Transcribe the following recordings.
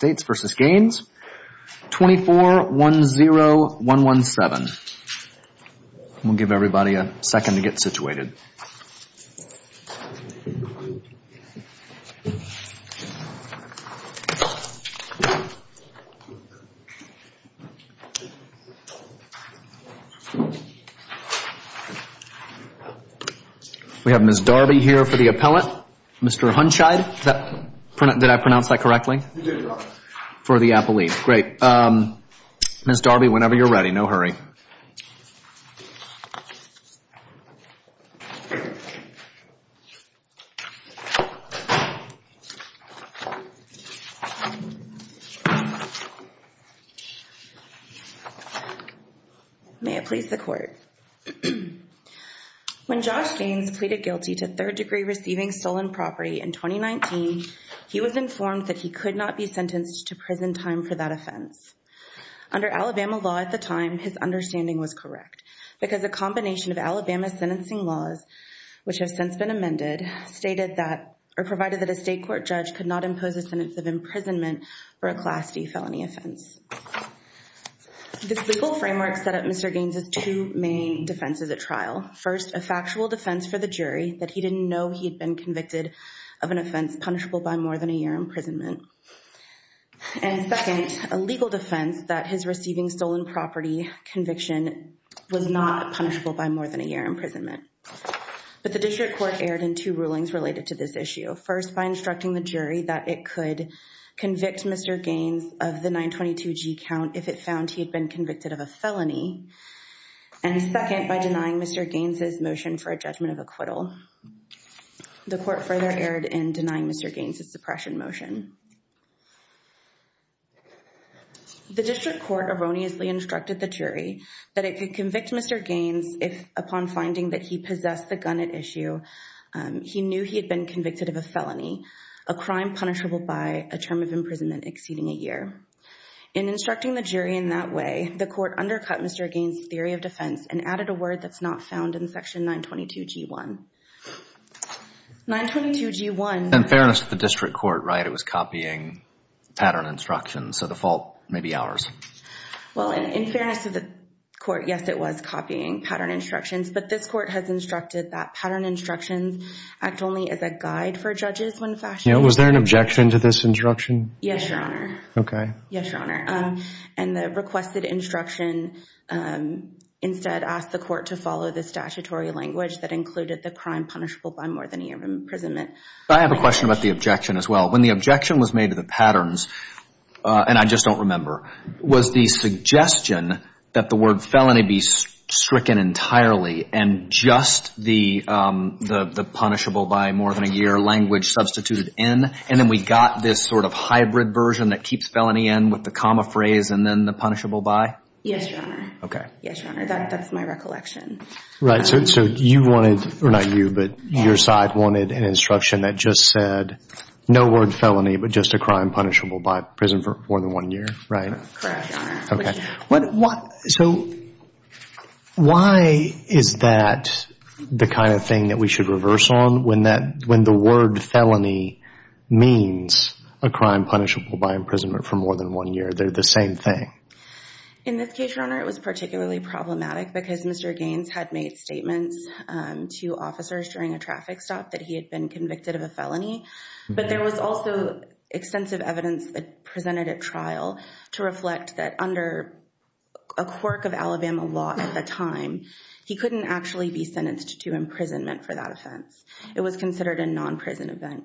2410117. We'll give everybody a second to get situated. We have Ms. Darby here for the appellate. Mr. Hunchide, did I pronounce that correctly? For the appellate. Great. Ms. Darby, whenever you're ready. No hurry. May it please the court. When Josh Gaines pleaded guilty to third-degree receiving stolen property in 2019, he was informed that he could not be sentenced to prison time for that offense. Under Alabama law at the time, his understanding was correct because a combination of Alabama sentencing laws, which have since been amended, stated that, or provided that a state court judge could not impose a sentence of imprisonment or a class D felony offense. This legal framework set up Mr. Gaines's two main defenses at trial. First, a factual defense for the jury that he didn't know he had been convicted of an offense punishable by more than a year imprisonment. And second, a legal defense that his receiving stolen property conviction was not punishable by more than a year imprisonment. But the district court erred in two rulings related to this issue. First, by instructing the jury that it could convict Mr. Gaines of the 922 G count if it found he had been convicted of a felony. And second, by denying Mr. Gaines's for a judgment of acquittal. The court further erred in denying Mr. Gaines's suppression motion. The district court erroneously instructed the jury that it could convict Mr. Gaines if, upon finding that he possessed the gun at issue, he knew he had been convicted of a felony, a crime punishable by a term of imprisonment exceeding a year. In instructing the jury in that way, the court undercut Mr. Gaines's theory of defense and added a word that's not found in section 922 G1. 922 G1. In fairness to the district court, right, it was copying pattern instructions. So the fault may be ours. Well, in fairness to the court, yes, it was copying pattern instructions. But this court has instructed that pattern instructions act only as a guide for judges when fashioning. You know, was there an objection to this instruction? Yes, Your Honor. Okay. Yes, Your Honor. And the requested instruction instead asked the court to follow the statutory language that included the crime punishable by more than a year of imprisonment. I have a question about the objection as well. When the objection was made to the patterns, and I just don't remember, was the suggestion that the word felony be stricken entirely and just the punishable by more than a year language substituted in? And then we got this sort of hybrid version that keeps felony in with the comma phrase and then the Yes, Your Honor. Okay. Yes, Your Honor. That's my recollection. Right. So you wanted, or not you, but your side wanted an instruction that just said no word felony but just a crime punishable by prison for more than one year, right? Correct, Your Honor. Okay. So why is that the kind of thing that we should reverse on when the word felony means a crime punishable by imprisonment for more than one year? They're the same thing. In this case, Your Honor, it was particularly problematic because Mr. Gaines had made statements to officers during a traffic stop that he had been convicted of a felony, but there was also extensive evidence presented at trial to reflect that under a quirk of Alabama law at the time, he couldn't actually be sentenced to imprisonment for that offense. It was considered a non-prison event.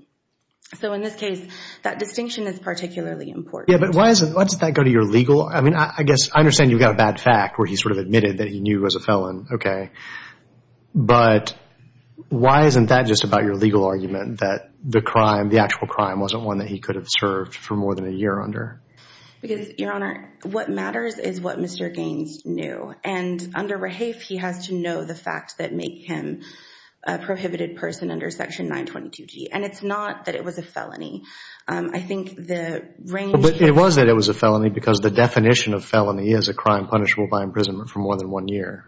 So in this case, that distinction is particularly important. Yeah, but why is it, why does that go to your legal, I mean, I guess I understand you've got a bad fact where he sort of admitted that he knew he was a felon, okay, but why isn't that just about your legal argument that the crime, the actual crime, wasn't one that he could have served for more than a year under? Because, Your Honor, what matters is what Mr. Gaines knew, and under Rahafe, he has to know the facts that make him a prohibited person under Section 922g, and it's not that it was a felony. I think the range... But it was that it was a felony because the definition of felony is a crime punishable by imprisonment for more than one year.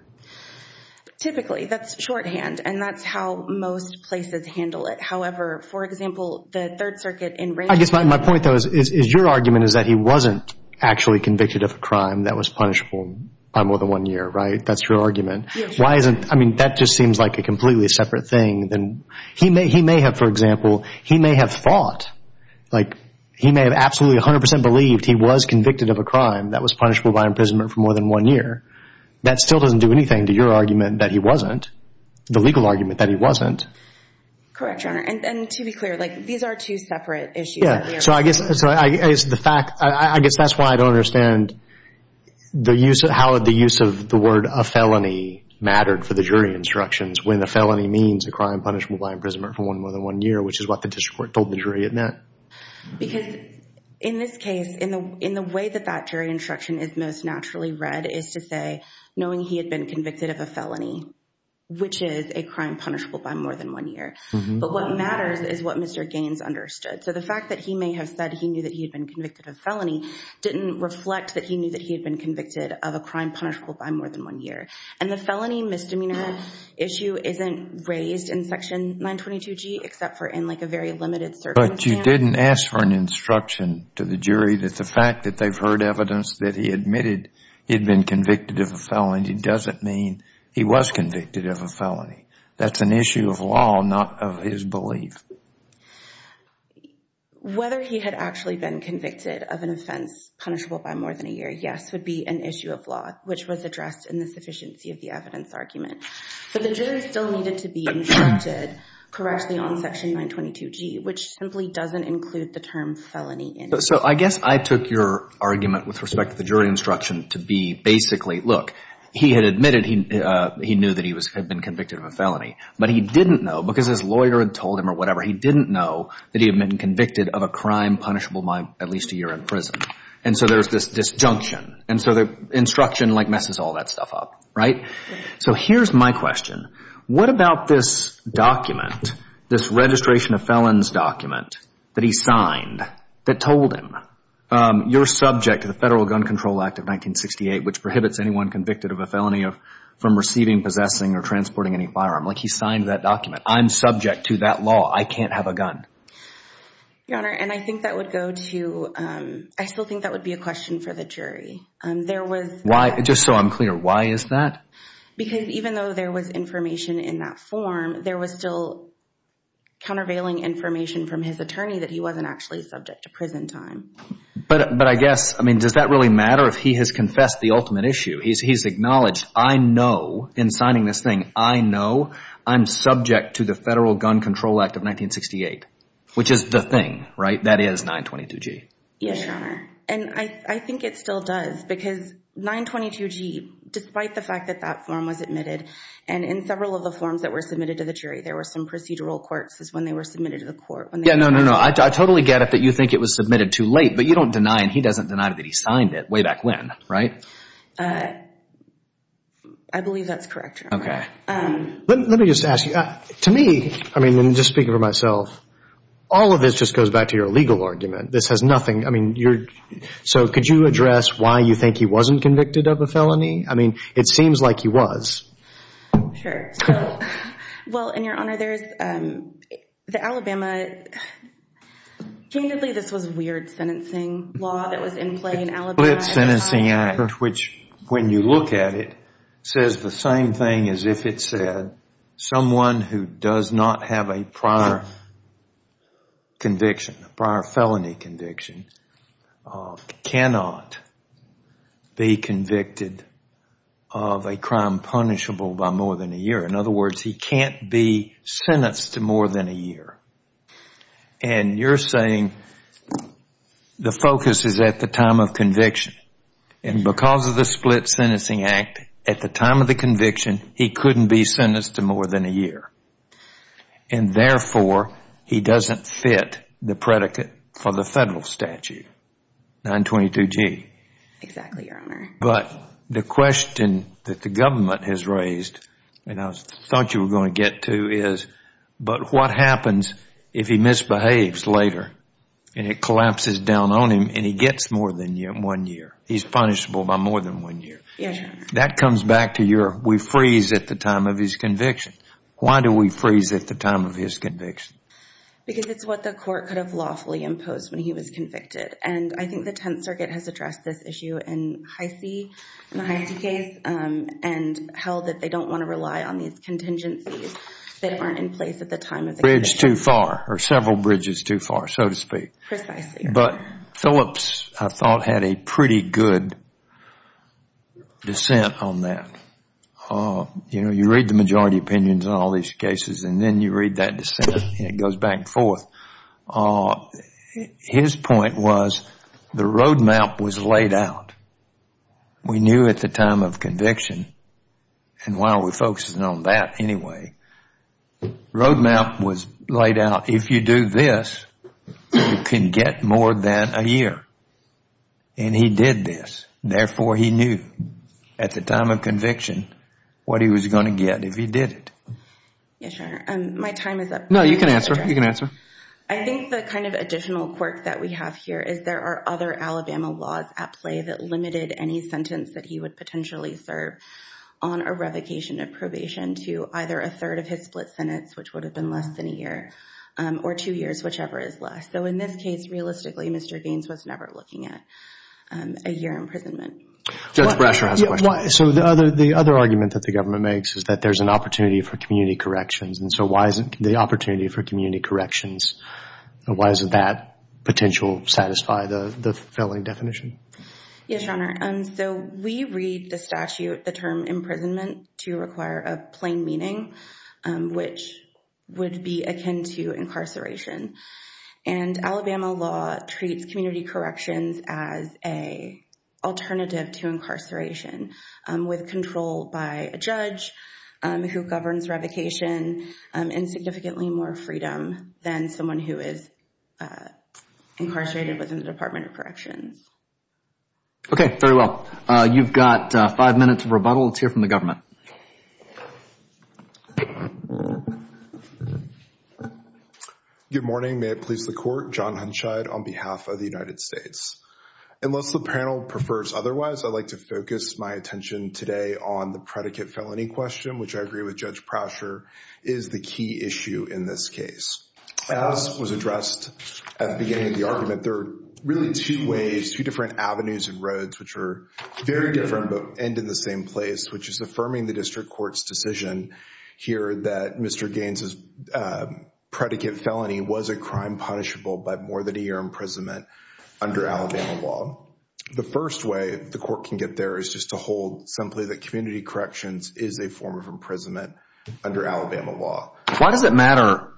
Typically, that's shorthand, and that's how most places handle it. However, for example, the Third Circuit in... I guess my point, though, is your argument is that he wasn't actually convicted of a crime that was punishable by more than one year, right? That's your argument. Why isn't, I mean, that just seems like a completely separate thing than, he may have, for example, he may have thought, like, he may have absolutely 100% believed he was convicted of a crime that was punishable by imprisonment for more than one year. That still doesn't do anything to your argument that he wasn't, the legal argument that he wasn't. Correct, Your Honor, and to be clear, like, these are two separate issues. Yeah, so I guess the fact... I guess that's why I don't understand the use of... how the use of the word a felony mattered for the jury instructions when the felony means a crime punishable by imprisonment for more than one year, which is what the district court told the jury it meant. Because in this case, in the way that that jury instruction is most naturally read is to say, knowing he had been convicted of a felony, which is a crime punishable by more than one year, but what matters is what Mr. Gaines understood. So the fact that he may have said he knew that he had been convicted of a felony didn't reflect that he knew that he had been convicted of a crime punishable by more than one year, and the felony misdemeanor issue isn't raised in Section 922G except for in, like, a very limited circumstance. But you didn't ask for an instruction to the jury that the fact that they've heard evidence that he admitted he'd been convicted of a felony doesn't mean he was convicted of a felony. That's an issue of law, not of his belief. Whether he had actually been convicted of an offense punishable by more than a year, yes, would be an issue of law, which was addressed in the sufficiency of the evidence argument. So the jury still needed to be instructed correctly on Section 922G, which simply doesn't include the term felony. So I guess I took your argument with respect to the jury instruction to be basically, look, he had admitted he knew that he had been convicted of a felony, but he didn't know because his lawyer had told him or whatever, he didn't know that he had been convicted of a crime punishable by at least a year in prison. And so there's this disjunction, and so the instruction messes all that stuff up, right? So here's my question. What about this document, this registration of felons document that he signed that told him, you're subject to the Federal Gun Control Act of 1968, which prohibits anyone convicted of a felony from receiving, possessing, or transporting any firearm. Like, he signed that document. I'm subject to that law. I can't have a gun. Your Honor, and I think that would go to, I still think that would be a question for the jury. There was... Why, just so I'm clear, why is that? Because even though there was information in that form, there was still countervailing information from his attorney that he wasn't actually subject to prison time. But I guess, I mean, does that really matter if he has confessed the ultimate issue? He's acknowledged, I know in signing this thing, I know I'm subject to the Federal Gun Control Act of 1968, which is the thing, right? That is 922G. Yes, Your Honor. And I think it still does, because 922G, despite the fact that that form was admitted, and in several of the forms that were submitted to the jury, there were some procedural courts is when they were submitted to the court. Yeah, no, no, no. I totally get it that you think it was submitted too late, but you don't deny, and he doesn't deny that he signed it way back when, right? I believe that's correct, Your Honor. Okay. Let me just ask you, to me, I mean, just speaking for myself, all of this just goes back to your legal argument. This has nothing, I mean, you're so, could you address why you think he wasn't convicted of a felony? I mean, it seems like he was. Sure. Well, and Your Honor, there's the Alabama, candidly, this was a weird sentencing law that was in play in Alabama. The Split Sentencing Act, which, when you look at it, says the same thing as if it said, someone who does not have a prior conviction, a prior felony conviction, cannot be convicted of a crime punishable by more than a year. In other words, he can't be sentenced to more than a year. And you're saying the focus is at the time of conviction. And because of the Split Sentencing Act, at the time of the conviction, he couldn't be sentenced to more than a year. And therefore, he doesn't fit the predicate for the federal statute, 922G. Exactly, Your Honor. But the question that the government has raised, and I thought you were going to get to, is, but what happens if he misbehaves later and it collapses down on him and he gets more than one year? He's punishable by more than one year. Yes, Your Honor. That comes back to your, we look at his conviction. Why do we freeze at the time of his conviction? Because it's what the court could have lawfully imposed when he was convicted. And I think the Tenth Circuit has addressed this issue in Heisey, in the Heisey case, and held that they don't want to rely on these contingencies that aren't in place at the time of the conviction. Bridge too far, or several bridges too far, so to speak. Precisely. But Phillips, I thought, had a pretty good dissent on that. You know, you read the majority opinions on all these cases, and then you read that dissent, and it goes back and forth. His point was the road map was laid out. We knew at the time of conviction, and why are we focusing on that anyway? Road map was laid out. If you do this, you can get more than a year. And he did this. Therefore, he knew at the time of conviction what he was going to get if he did it. Yes, Your Honor. My time is up. No, you can answer. You can answer. I think the kind of additional quirk that we have here is there are other Alabama laws at play that limited any sentence that he would potentially serve on a revocation of probation to either a third of his split sentence, which would have been less than a year, or two years, whichever is less. So in this case, realistically, Mr. Baines was never looking at a year imprisonment. Judge Brasher has a question. So the other argument that the government makes is that there's an opportunity for community corrections, and so why isn't the opportunity for community corrections, why doesn't that potential satisfy the filling definition? Yes, Your Honor. So we read the statute, the term imprisonment, to require a plain meaning, which would be akin to incarceration. And Alabama law treats community corrections as a alternative to incarceration, with control by a judge who governs revocation and significantly more freedom than someone who is incarcerated within the Department of Corrections. Okay, very well. You've got five minutes of the panel. Let's hear from the government. Good morning. May it please the Court. John Hunshide on behalf of the United States. Unless the panel prefers otherwise, I'd like to focus my attention today on the predicate felony question, which I agree with Judge Brasher, is the key issue in this case. As was addressed at the beginning of the argument, there are really two ways, two different avenues and roads, which are very different but end in the same place, which is affirming the district court's decision here that Mr. Gaines's predicate felony was a crime punishable by more than a year imprisonment under Alabama law. The first way the court can get there is just to hold simply that community corrections is a form of imprisonment under Alabama law. Why does it matter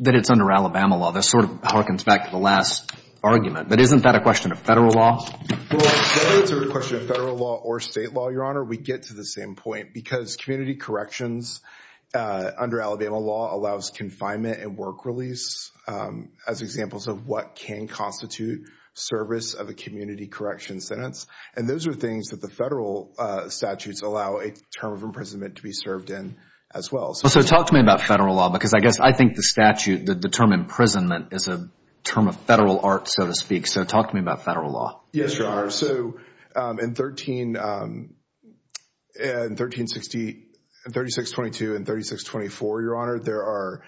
that it's under Alabama law? This sort of harkens back to the last argument, but isn't that a question of federal law? Well, whether it's a question of federal law or state law, Your Honor, we get to the same point because community corrections under Alabama law allows confinement and work release as examples of what can constitute service of a community correction sentence. And those are things that the federal statutes allow a term of imprisonment to be served in as well. So talk to me about federal law because I guess I think the statute, the term imprisonment is a term of federal art, so to speak. So talk to me about federal law. Yes, Your Honor. So in 13... in 1360... in 3622 and 3624, Your Honor, there are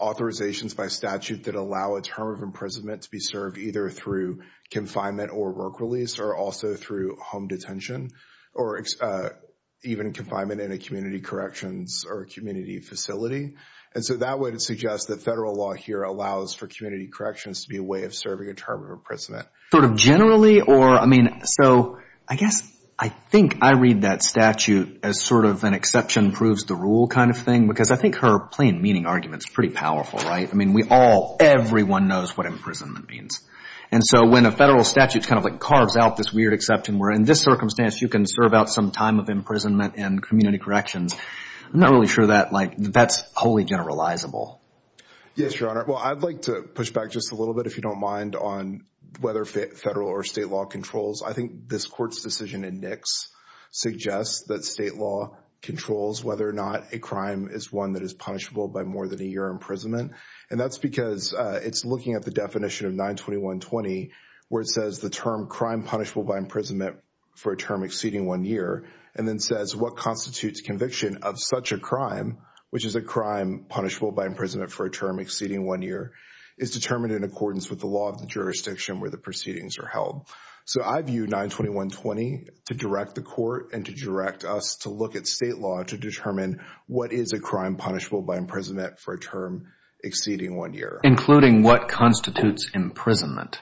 authorizations by statute that allow a term of imprisonment to be served either through confinement or work release or also through home detention or even confinement in a community corrections or a community facility. And so that would suggest that federal law here allows for community corrections to be a way of serving a term of imprisonment. Sort of generally or, I mean, so I guess I think I read that statute as sort of an exception proves the rule kind of thing because I think her plain meaning argument is pretty powerful, right? I mean we all, everyone knows what imprisonment means. And so when a federal statute kind of like carves out this weird exception where in this circumstance you can serve out some time of imprisonment and community corrections, I'm not really sure that like that's wholly generalizable. Yes, Your Honor. Well, I'd like to push back just a little bit if you don't mind on whether federal or state law controls. I think this court's decision in Nix suggests that state law controls whether or not a crime is one that is punishable by more than a year imprisonment. And that's because it's looking at the definition of 92120 where it says the term crime punishable by imprisonment for a term exceeding one year and then says what constitutes conviction of such a crime which is a crime punishable by imprisonment for a term exceeding one year is determined in accordance with the law of the jurisdiction where the proceedings are held. So I view 92120 to direct the court and to direct us to look at state law to determine what is a crime punishable by imprisonment for a term exceeding one year. Including what constitutes imprisonment.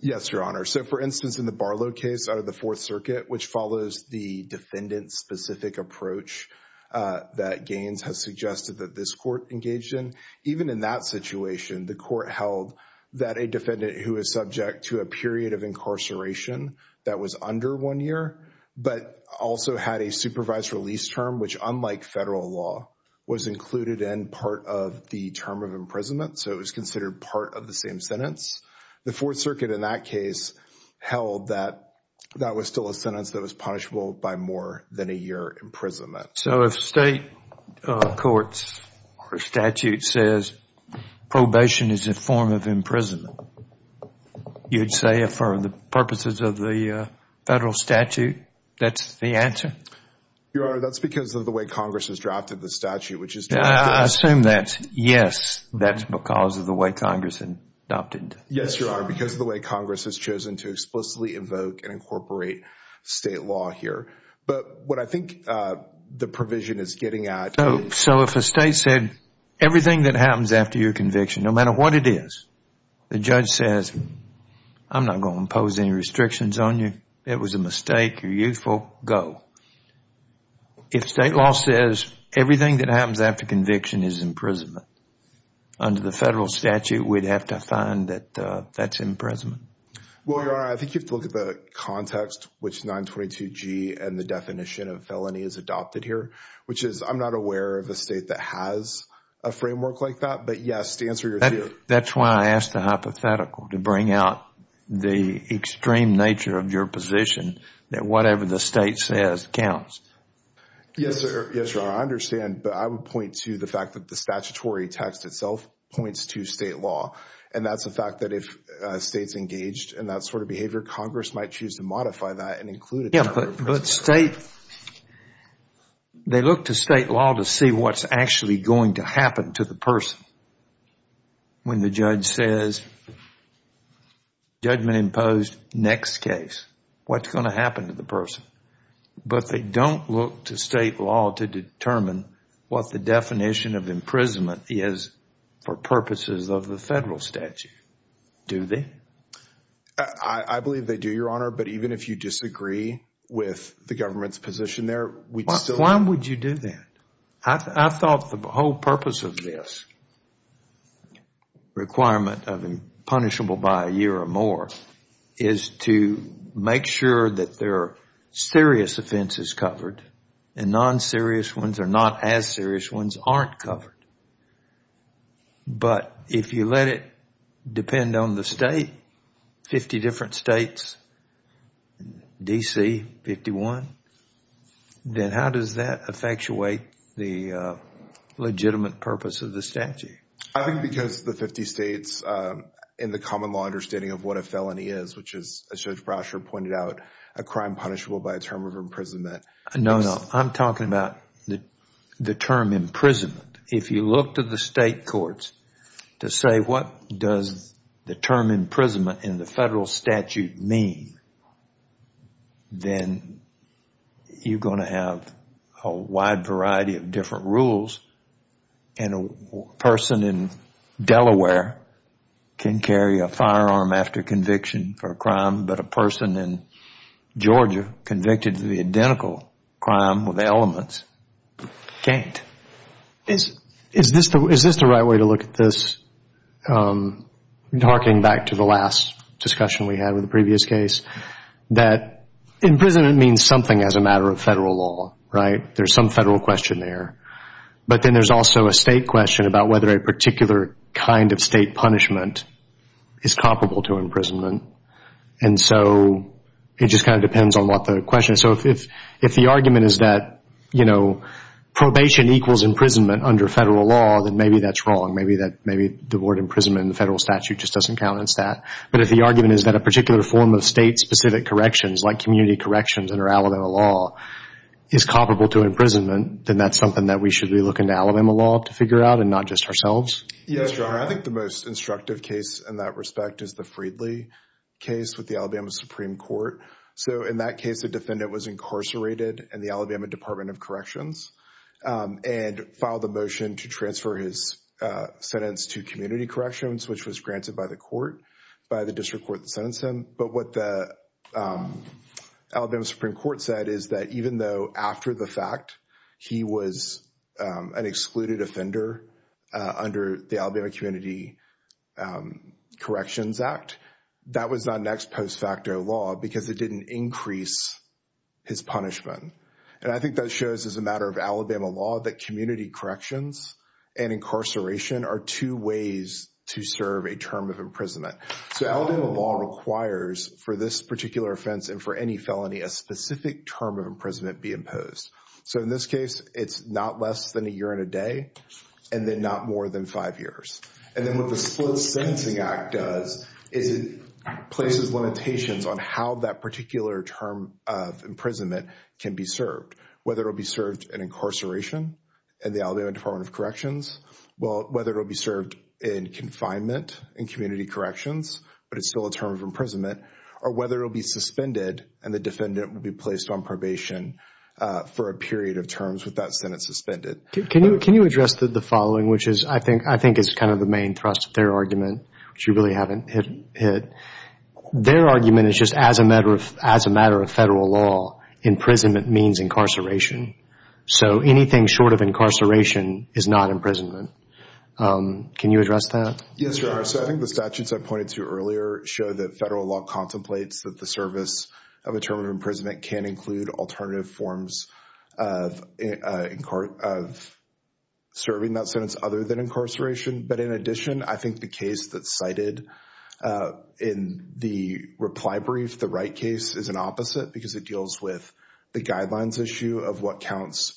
Yes, Your Honor. So for instance in the Barlow case out of the Fourth Circuit which follows the defendant specific approach that Gaines has suggested that this court engaged in even in that situation the court held that a defendant who is subject to a period of incarceration that was under one year but also had a supervised release term which unlike federal law was included in part of the term of imprisonment. So it was considered part of the same sentence. The Fourth Circuit in that case held that that was still a sentence that was punishable by more than a year imprisonment. So if state courts or statute says probation is a form of imprisonment you'd say for the purposes of the federal statute that's the answer? Your Honor, that's because of the way Congress has drafted the statute which is. I assume that yes that's because of the way Congress adopted. Yes, Your Honor, because of the way Congress has chosen to explicitly evoke and incorporate state law here. But what I think the provision is getting at. So if a state said everything that happens after your conviction no matter what it is the judge says I'm not going to impose any restrictions on you. It was a mistake. You're youthful. Go. If state law says everything that happens after conviction is imprisonment under the federal statute we'd have to find that that's imprisonment. Well, Your Honor, I think you have to look at the context which 922G and the definition of felony is adopted here which is I'm not aware of a state that has a framework like that. But yes, to answer your question. That's why I asked the hypothetical to bring out the extreme nature of your position that whatever the state says counts. Yes, Your Honor, I understand. But I would point to the fact that the statutory text itself points to state law and that's the fact that if a state's engaged in that sort of behavior Congress might choose to modify that and include it. Yes, but state, they look to state law to see what's actually going to happen to the person when the judge says judgment imposed, next case. What's going to happen to the person? But they don't look to state law to determine what the definition of imprisonment is for purposes of the federal statute, do they? I believe they do, Your Honor. But even if you disagree with the government's position there, we'd still... Why would you do that? I thought the whole purpose of this requirement of impunishable by a year or more is to make sure that there are serious offenses covered and non-serious ones or not as serious ones aren't covered. But if you let it depend on the state, 50 different states, D.C., 51, then how does that effectuate the legitimate purpose of the statute? I think because the 50 states, in the common law understanding of what a felony is, which is, as Judge Brasher pointed out, a crime punishable by a year or more. No, no. I'm talking about the term imprisonment. If you look to the state courts to say what does the term imprisonment in the federal statute mean, then you're going to have a wide variety of different rules and a person in Delaware can carry a firearm after conviction for a crime, but a person in Georgia convicted of the identical crime with elements can't. Is this the right way to look at this? Harking back to the last discussion we had with the previous case, that imprisonment means something as a matter of federal law, right? There's some federal question there. But then there's also a state question about whether a particular kind of And so it just kind of depends on what the question is. So if the argument is that probation equals imprisonment under federal law, then maybe that's wrong. Maybe the word imprisonment in the federal statute just doesn't count as that. But if the argument is that a particular form of state-specific corrections, like community corrections under Alabama law, is comparable to imprisonment, then that's something that we should be looking to Alabama law to figure out and not just ourselves. Yes, your honor. I think the most instructive case in that respect is the Freedly case with the Alabama Supreme Court. So in that case, the defendant was incarcerated in the Alabama Department of Corrections and filed a motion to transfer his sentence to community corrections, which was granted by the court, by the district court that sentenced him. But what the Alabama Supreme Court said is that even though after the fact he was an excluded offender under the Alabama Community Corrections Act, that was not next post facto law because it didn't increase his punishment. And I think that shows, as a matter of Alabama law, that community corrections and incarceration are two ways to serve a term of imprisonment. So Alabama law requires, for this particular offense and for any felony, a specific term of imprisonment be imposed. So in this case, it's not less than a year and a day, and then not more than five years. And then what the Split Sentencing Act does is it places limitations on how that particular term of imprisonment can be served, whether it will be served in incarceration in the Alabama Department of Corrections, whether it will be served in confinement in community corrections, but it's still a term of imprisonment, or whether it will be suspended and the defendant will be placed on probation for a period of terms with that sentence suspended. Can you address the following, which I think is kind of the main thrust of their argument, which you really haven't hit. Their argument is just as a matter of federal law, imprisonment means incarceration. So anything short of incarceration is not imprisonment. Can you address that? Yes, Your Honor. So I think the statutes I pointed to earlier show that federal law contemplates that the service of a term of imprisonment can include alternative forms of serving that sentence other than incarceration. But in addition, I think the case that's cited in the reply brief, the Wright case is an opposite because it deals with the guidelines issue of what counts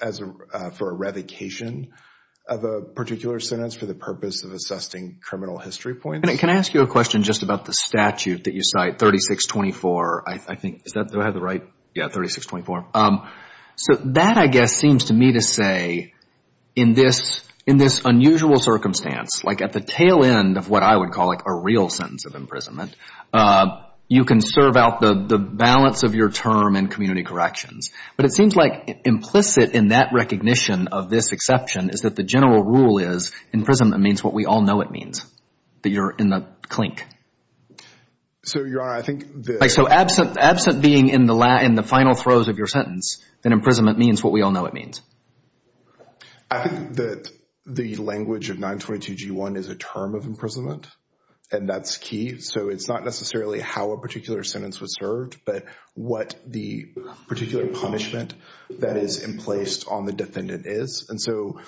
for a revocation of a particular sentence for the purpose of assessing criminal history points. And can I ask you a question just about the statute that you cite, 3624? I think, is that, do I have the right? Yeah, 3624. So that, I guess, seems to me to say in this unusual circumstance, like at the tail end of what I would call like a real sentence of imprisonment, you can serve out the balance of your term in community corrections. But it seems like implicit in that recognition of this exception is that the general rule is imprisonment means what we all know it means, that you're in the clink. So, Your Honor, I think the- Like, so absent being in the final throes of your sentence, then imprisonment means what we all know it means. I think that the language of 922g1 is a term of imprisonment, and that's key. So it's not necessarily how a particular sentence was served, but what the particular punishment that is in place on the defendant is. And so,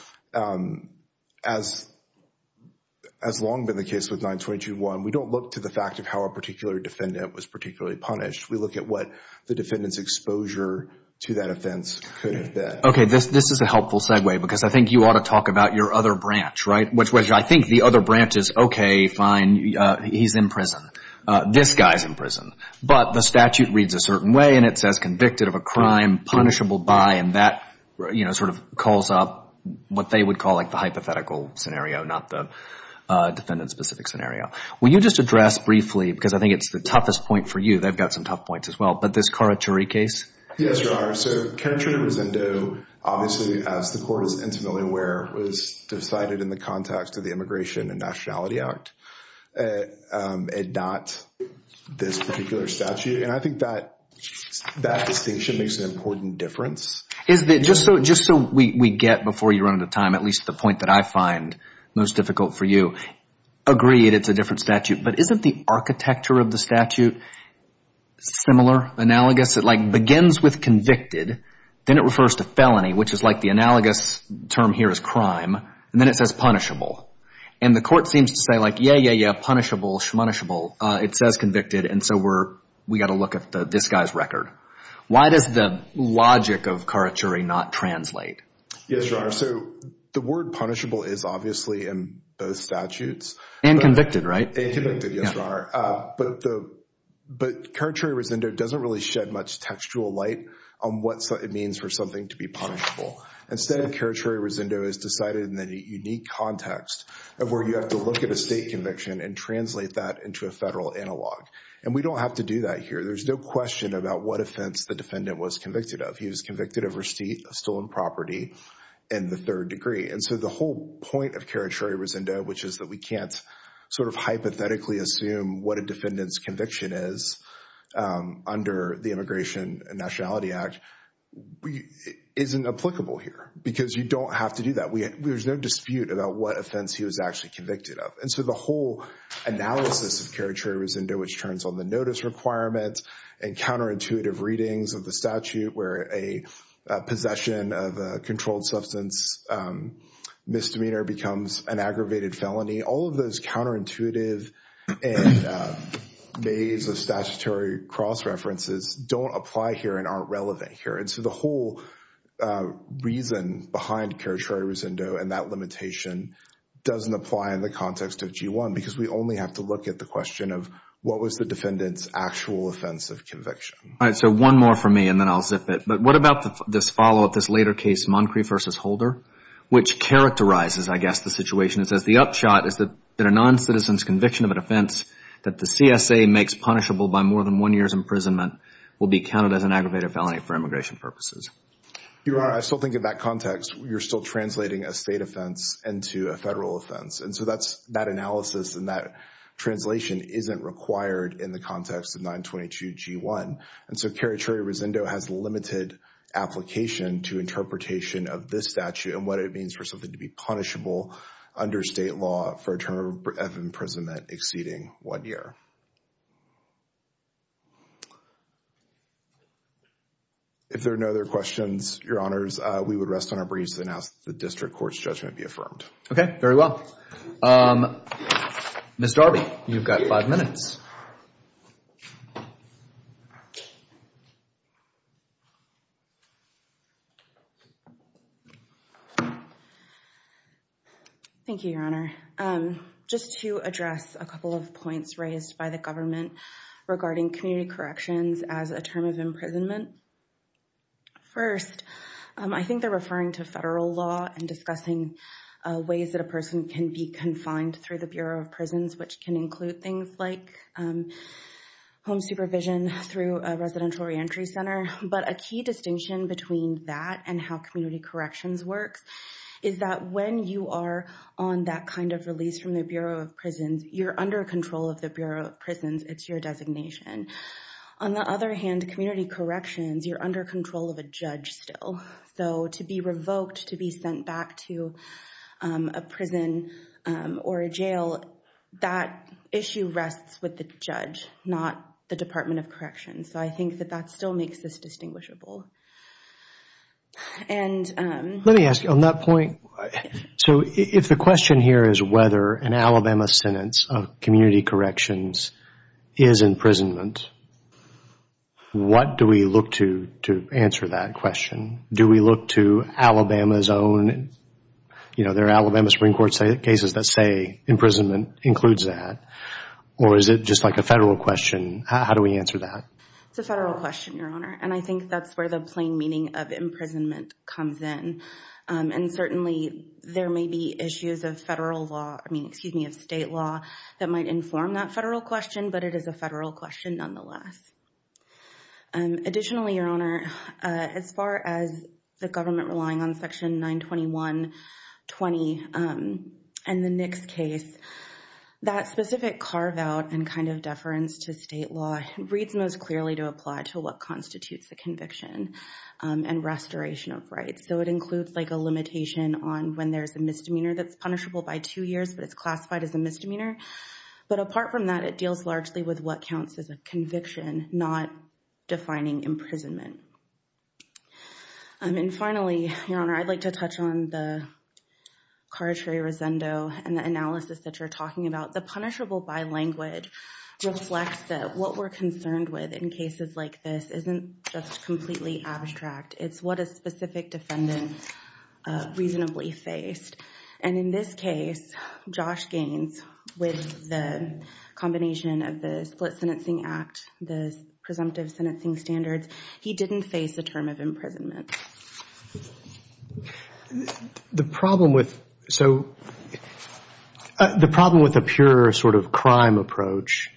as long been the case with 922g1, we don't look to the fact of how a particular defendant was particularly punished. We look at what the defendant's exposure to that offense could have been. Okay, this is a helpful segue, because I think you ought to talk about your other branch, right? Which I think the other branch is, okay, fine, he's in prison. This guy's in prison. But the statute reads a certain way, and it says convicted of a crime punishable by, and that, you know, sort of calls up what they would call like the hypothetical scenario, not the defendant-specific scenario. Will you just address briefly, because I think it's the toughest point for you, they've got some tough points as well, but this Carachuri case? Yes, Your Honor. So Carachuri-Rosendo, obviously, as the court is intimately aware, was decided in the context of the Immigration and Nationality Act, and not this particular statute. And I think that distinction makes an important difference. Is that, just so we get, before you run out of time, at least the point that I find most difficult for you, agree that it's a different statute, but isn't the architecture of the statute similar, analogous? It like begins with convicted, then it refers to felony, which is like the analogous term here is crime, and then it says punishable. And the court seems to say like, yeah, yeah, yeah, punishable, shmanishable. It says convicted, and so we got to look at this guy's record. Why does the logic of Carachuri not translate? Yes, Your Honor. So the word punishable is obviously in both statutes. And convicted, right? And convicted, yes, Your Honor. But Carachuri-Rosendo doesn't really shed much textual light on what it means for something to be punishable. Instead, Carachuri-Rosendo is decided in the unique context of where you have to look at a state conviction and translate that into a federal analog. And we don't have to do that here. There's no question about what offense the defendant was convicted of. He was convicted of receipt of stolen property in the third degree. And so the whole point of Carachuri-Rosendo, which is that we can't sort of hypothetically assume what a defendant's conviction is under the Immigration and Nationality Act, isn't applicable here because you don't have to do that. There's no dispute about what offense he was actually convicted of. And so the whole analysis of Carachuri-Rosendo, which turns on the notice requirements and counterintuitive readings of the statute where a possession of a controlled substance misdemeanor becomes an aggravated felony, all of those counterintuitive and maze of statutory cross-references don't apply here and aren't relevant here. And so the whole reason behind Carachuri-Rosendo and that limitation doesn't apply in the context of G1 because we only have to look at the question of what was the defendant's actual offense of conviction. All right, so one more for me and then I'll zip it. But what about this follow-up, this later case, Moncri versus Holder, which characterizes, I guess, the situation. It says the upshot is that a non-citizen's conviction of an offense that the CSA makes punishable by more than one year's imprisonment will be counted as an aggravated felony for immigration purposes. You're right. I still think of that context. You're still translating a state offense into a federal offense. And so that's, that analysis and that translation isn't required in the context of 922 G1. And so Carachuri-Rosendo has limited application to interpretation of this statute and what it means for something to be punishable under state law for a term of imprisonment exceeding one year. If there are no other questions, Your Honors, we would rest on our briefs and ask that the district court's judgment be affirmed. Okay, very well. Ms. Darby, you've got five minutes. Okay. Thank you, Your Honor. Just to address a couple of points raised by the government regarding community corrections as a term of imprisonment. First, I think they're referring to federal law and discussing ways that a person can be confined through the Bureau of Prisons which can include things like home supervision through a residential reentry center. But a key distinction between that and how community corrections works is that when you are on that kind of release from the Bureau of Prisons, you're under control of the Bureau of Prisons. It's your designation. On the other hand, community corrections, you're under control of a judge still. So to be revoked, to be sent back to a prison or a jail, that issue rests with the judge, not the Department of Corrections. So I think that that still makes this distinguishable. Let me ask you, on that point, so if the question here is whether an Alabama sentence of community corrections is imprisonment, what do we look to to answer that question? Do we look to Alabama's own, You know, there are Alabama Supreme Court cases that say imprisonment includes that. Or is it just like a federal question? How do we answer that? It's a federal question, Your Honor. And I think that's where the plain meaning of imprisonment comes in. And certainly, there may be issues of federal law, I mean, excuse me, of state law that might inform that federal question, but it is a federal question nonetheless. Additionally, Your Honor, as far as the government relying on Section 921.20 and the Nix case, that specific carve-out and kind of deference to state law reads most clearly to apply to what constitutes a conviction and restoration of rights. So it includes like a limitation on when there's a misdemeanor that's punishable by two years, but it's classified as a misdemeanor. But apart from that, it deals largely with what counts as a conviction, not defining imprisonment. And then finally, Your Honor, I'd like to touch on the carte resendo and the analysis that you're talking about. The punishable by language reflects that what we're concerned with in cases like this isn't just completely abstract. It's what a specific defendant reasonably faced. And in this case, Josh Gaines, with the combination of the Split Sentencing Act, the presumptive sentencing standards, he didn't face a term of imprisonment. The problem with... So, the problem with a pure sort of crime approach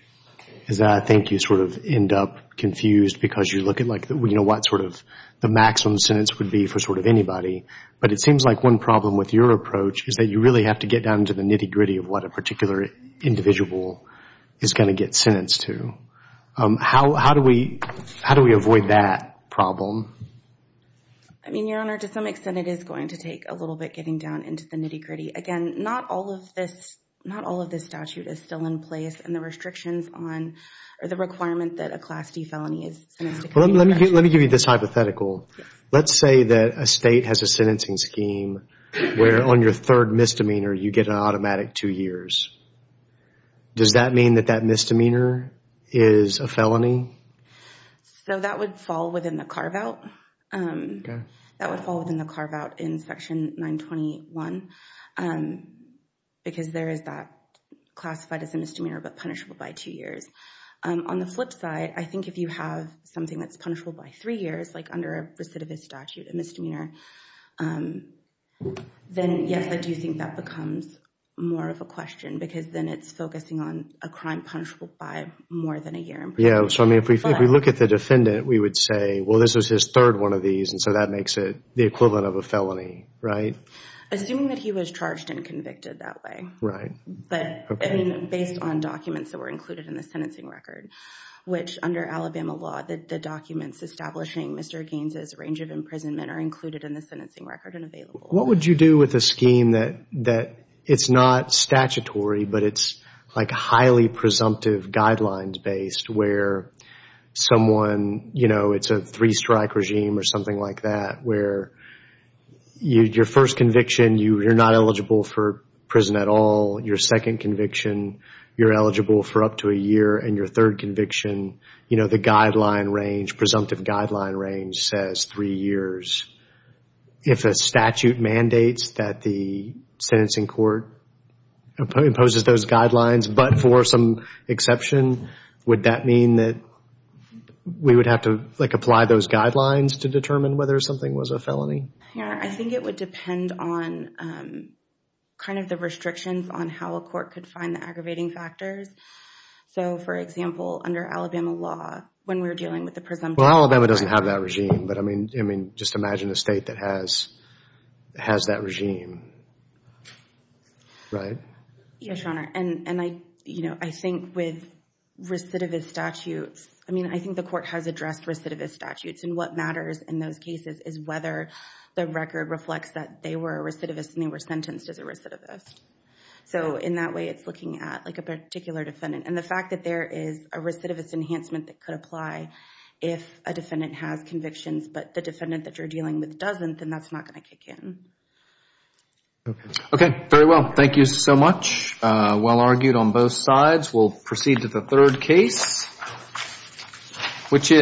is that I think you sort of end up confused because you look at like, you know, what sort of the maximum sentence would be for sort of anybody. But it seems like one problem with your approach is that you really have to get down to the nitty-gritty of what a particular individual is going to get sentenced to. How do we... How do we avoid that problem? I mean, Your Honor, to some extent it is going to take a little bit getting down into the nitty-gritty. not all of this... not all of this statute is still in place and the restrictions on... or the requirement that a Class D felony is sentenced to... Let me give you this hypothetical. Let's say that a state has a sentencing scheme where on your third misdemeanor you get an automatic two years. Does that mean that that misdemeanor is a felony? So that would fall within the carve-out. That would fall within the carve-out in Section 921 because there is that classified as a misdemeanor, but punishable by two years. On the flip side, I think if you have something that's punishable by three years like under a recidivist statute, a misdemeanor, then yes, I do think that becomes more of a question because then it's focusing on a crime punishable by more than a year in prison. Yeah, so I mean if we look at the defendant we would say well this is his third one of these and so that makes it the equivalent of a felony, right? Assuming that he was charged and convicted that way. Right. But, I mean based on documents that were included in the sentencing record which under Alabama law the documents establishing Mr. Gaines' range of imprisonment are included in the sentencing record and available. What would you do with a scheme that it's not statutory but it's like highly presumptive guidelines based where someone you know it's a three strike regime or something like that where your first conviction you're not eligible for prison at all your second conviction you're eligible for up to a year and your third conviction you know the guideline range presumptive guideline range says three years. If a statute mandates that the sentencing court imposes those guidelines but for some exception would that mean that we would have to like apply those guidelines to determine whether something was a felony? I think it would depend on kind of the restrictions on how a court could find the aggravating factors. So, for example under Alabama law when we're dealing with the presumptive Well, Alabama doesn't have that regime but I mean just imagine a state that has has that regime. Right? Yes, Your Honor. And I you know I think with recidivist statutes I mean I think the court has addressed recidivist statutes and what matters in those cases is whether the record reflects that they were a recidivist and they were sentenced as a recidivist. So, in that way it's looking at like a particular defendant and the fact that there is a recidivist enhancement that could apply if a defendant has convictions but the defendant that you're dealing with doesn't then that's not going to kick in. Okay. Okay. Very well. Thank you so much. Well argued on both sides. We'll proceed to the third case which is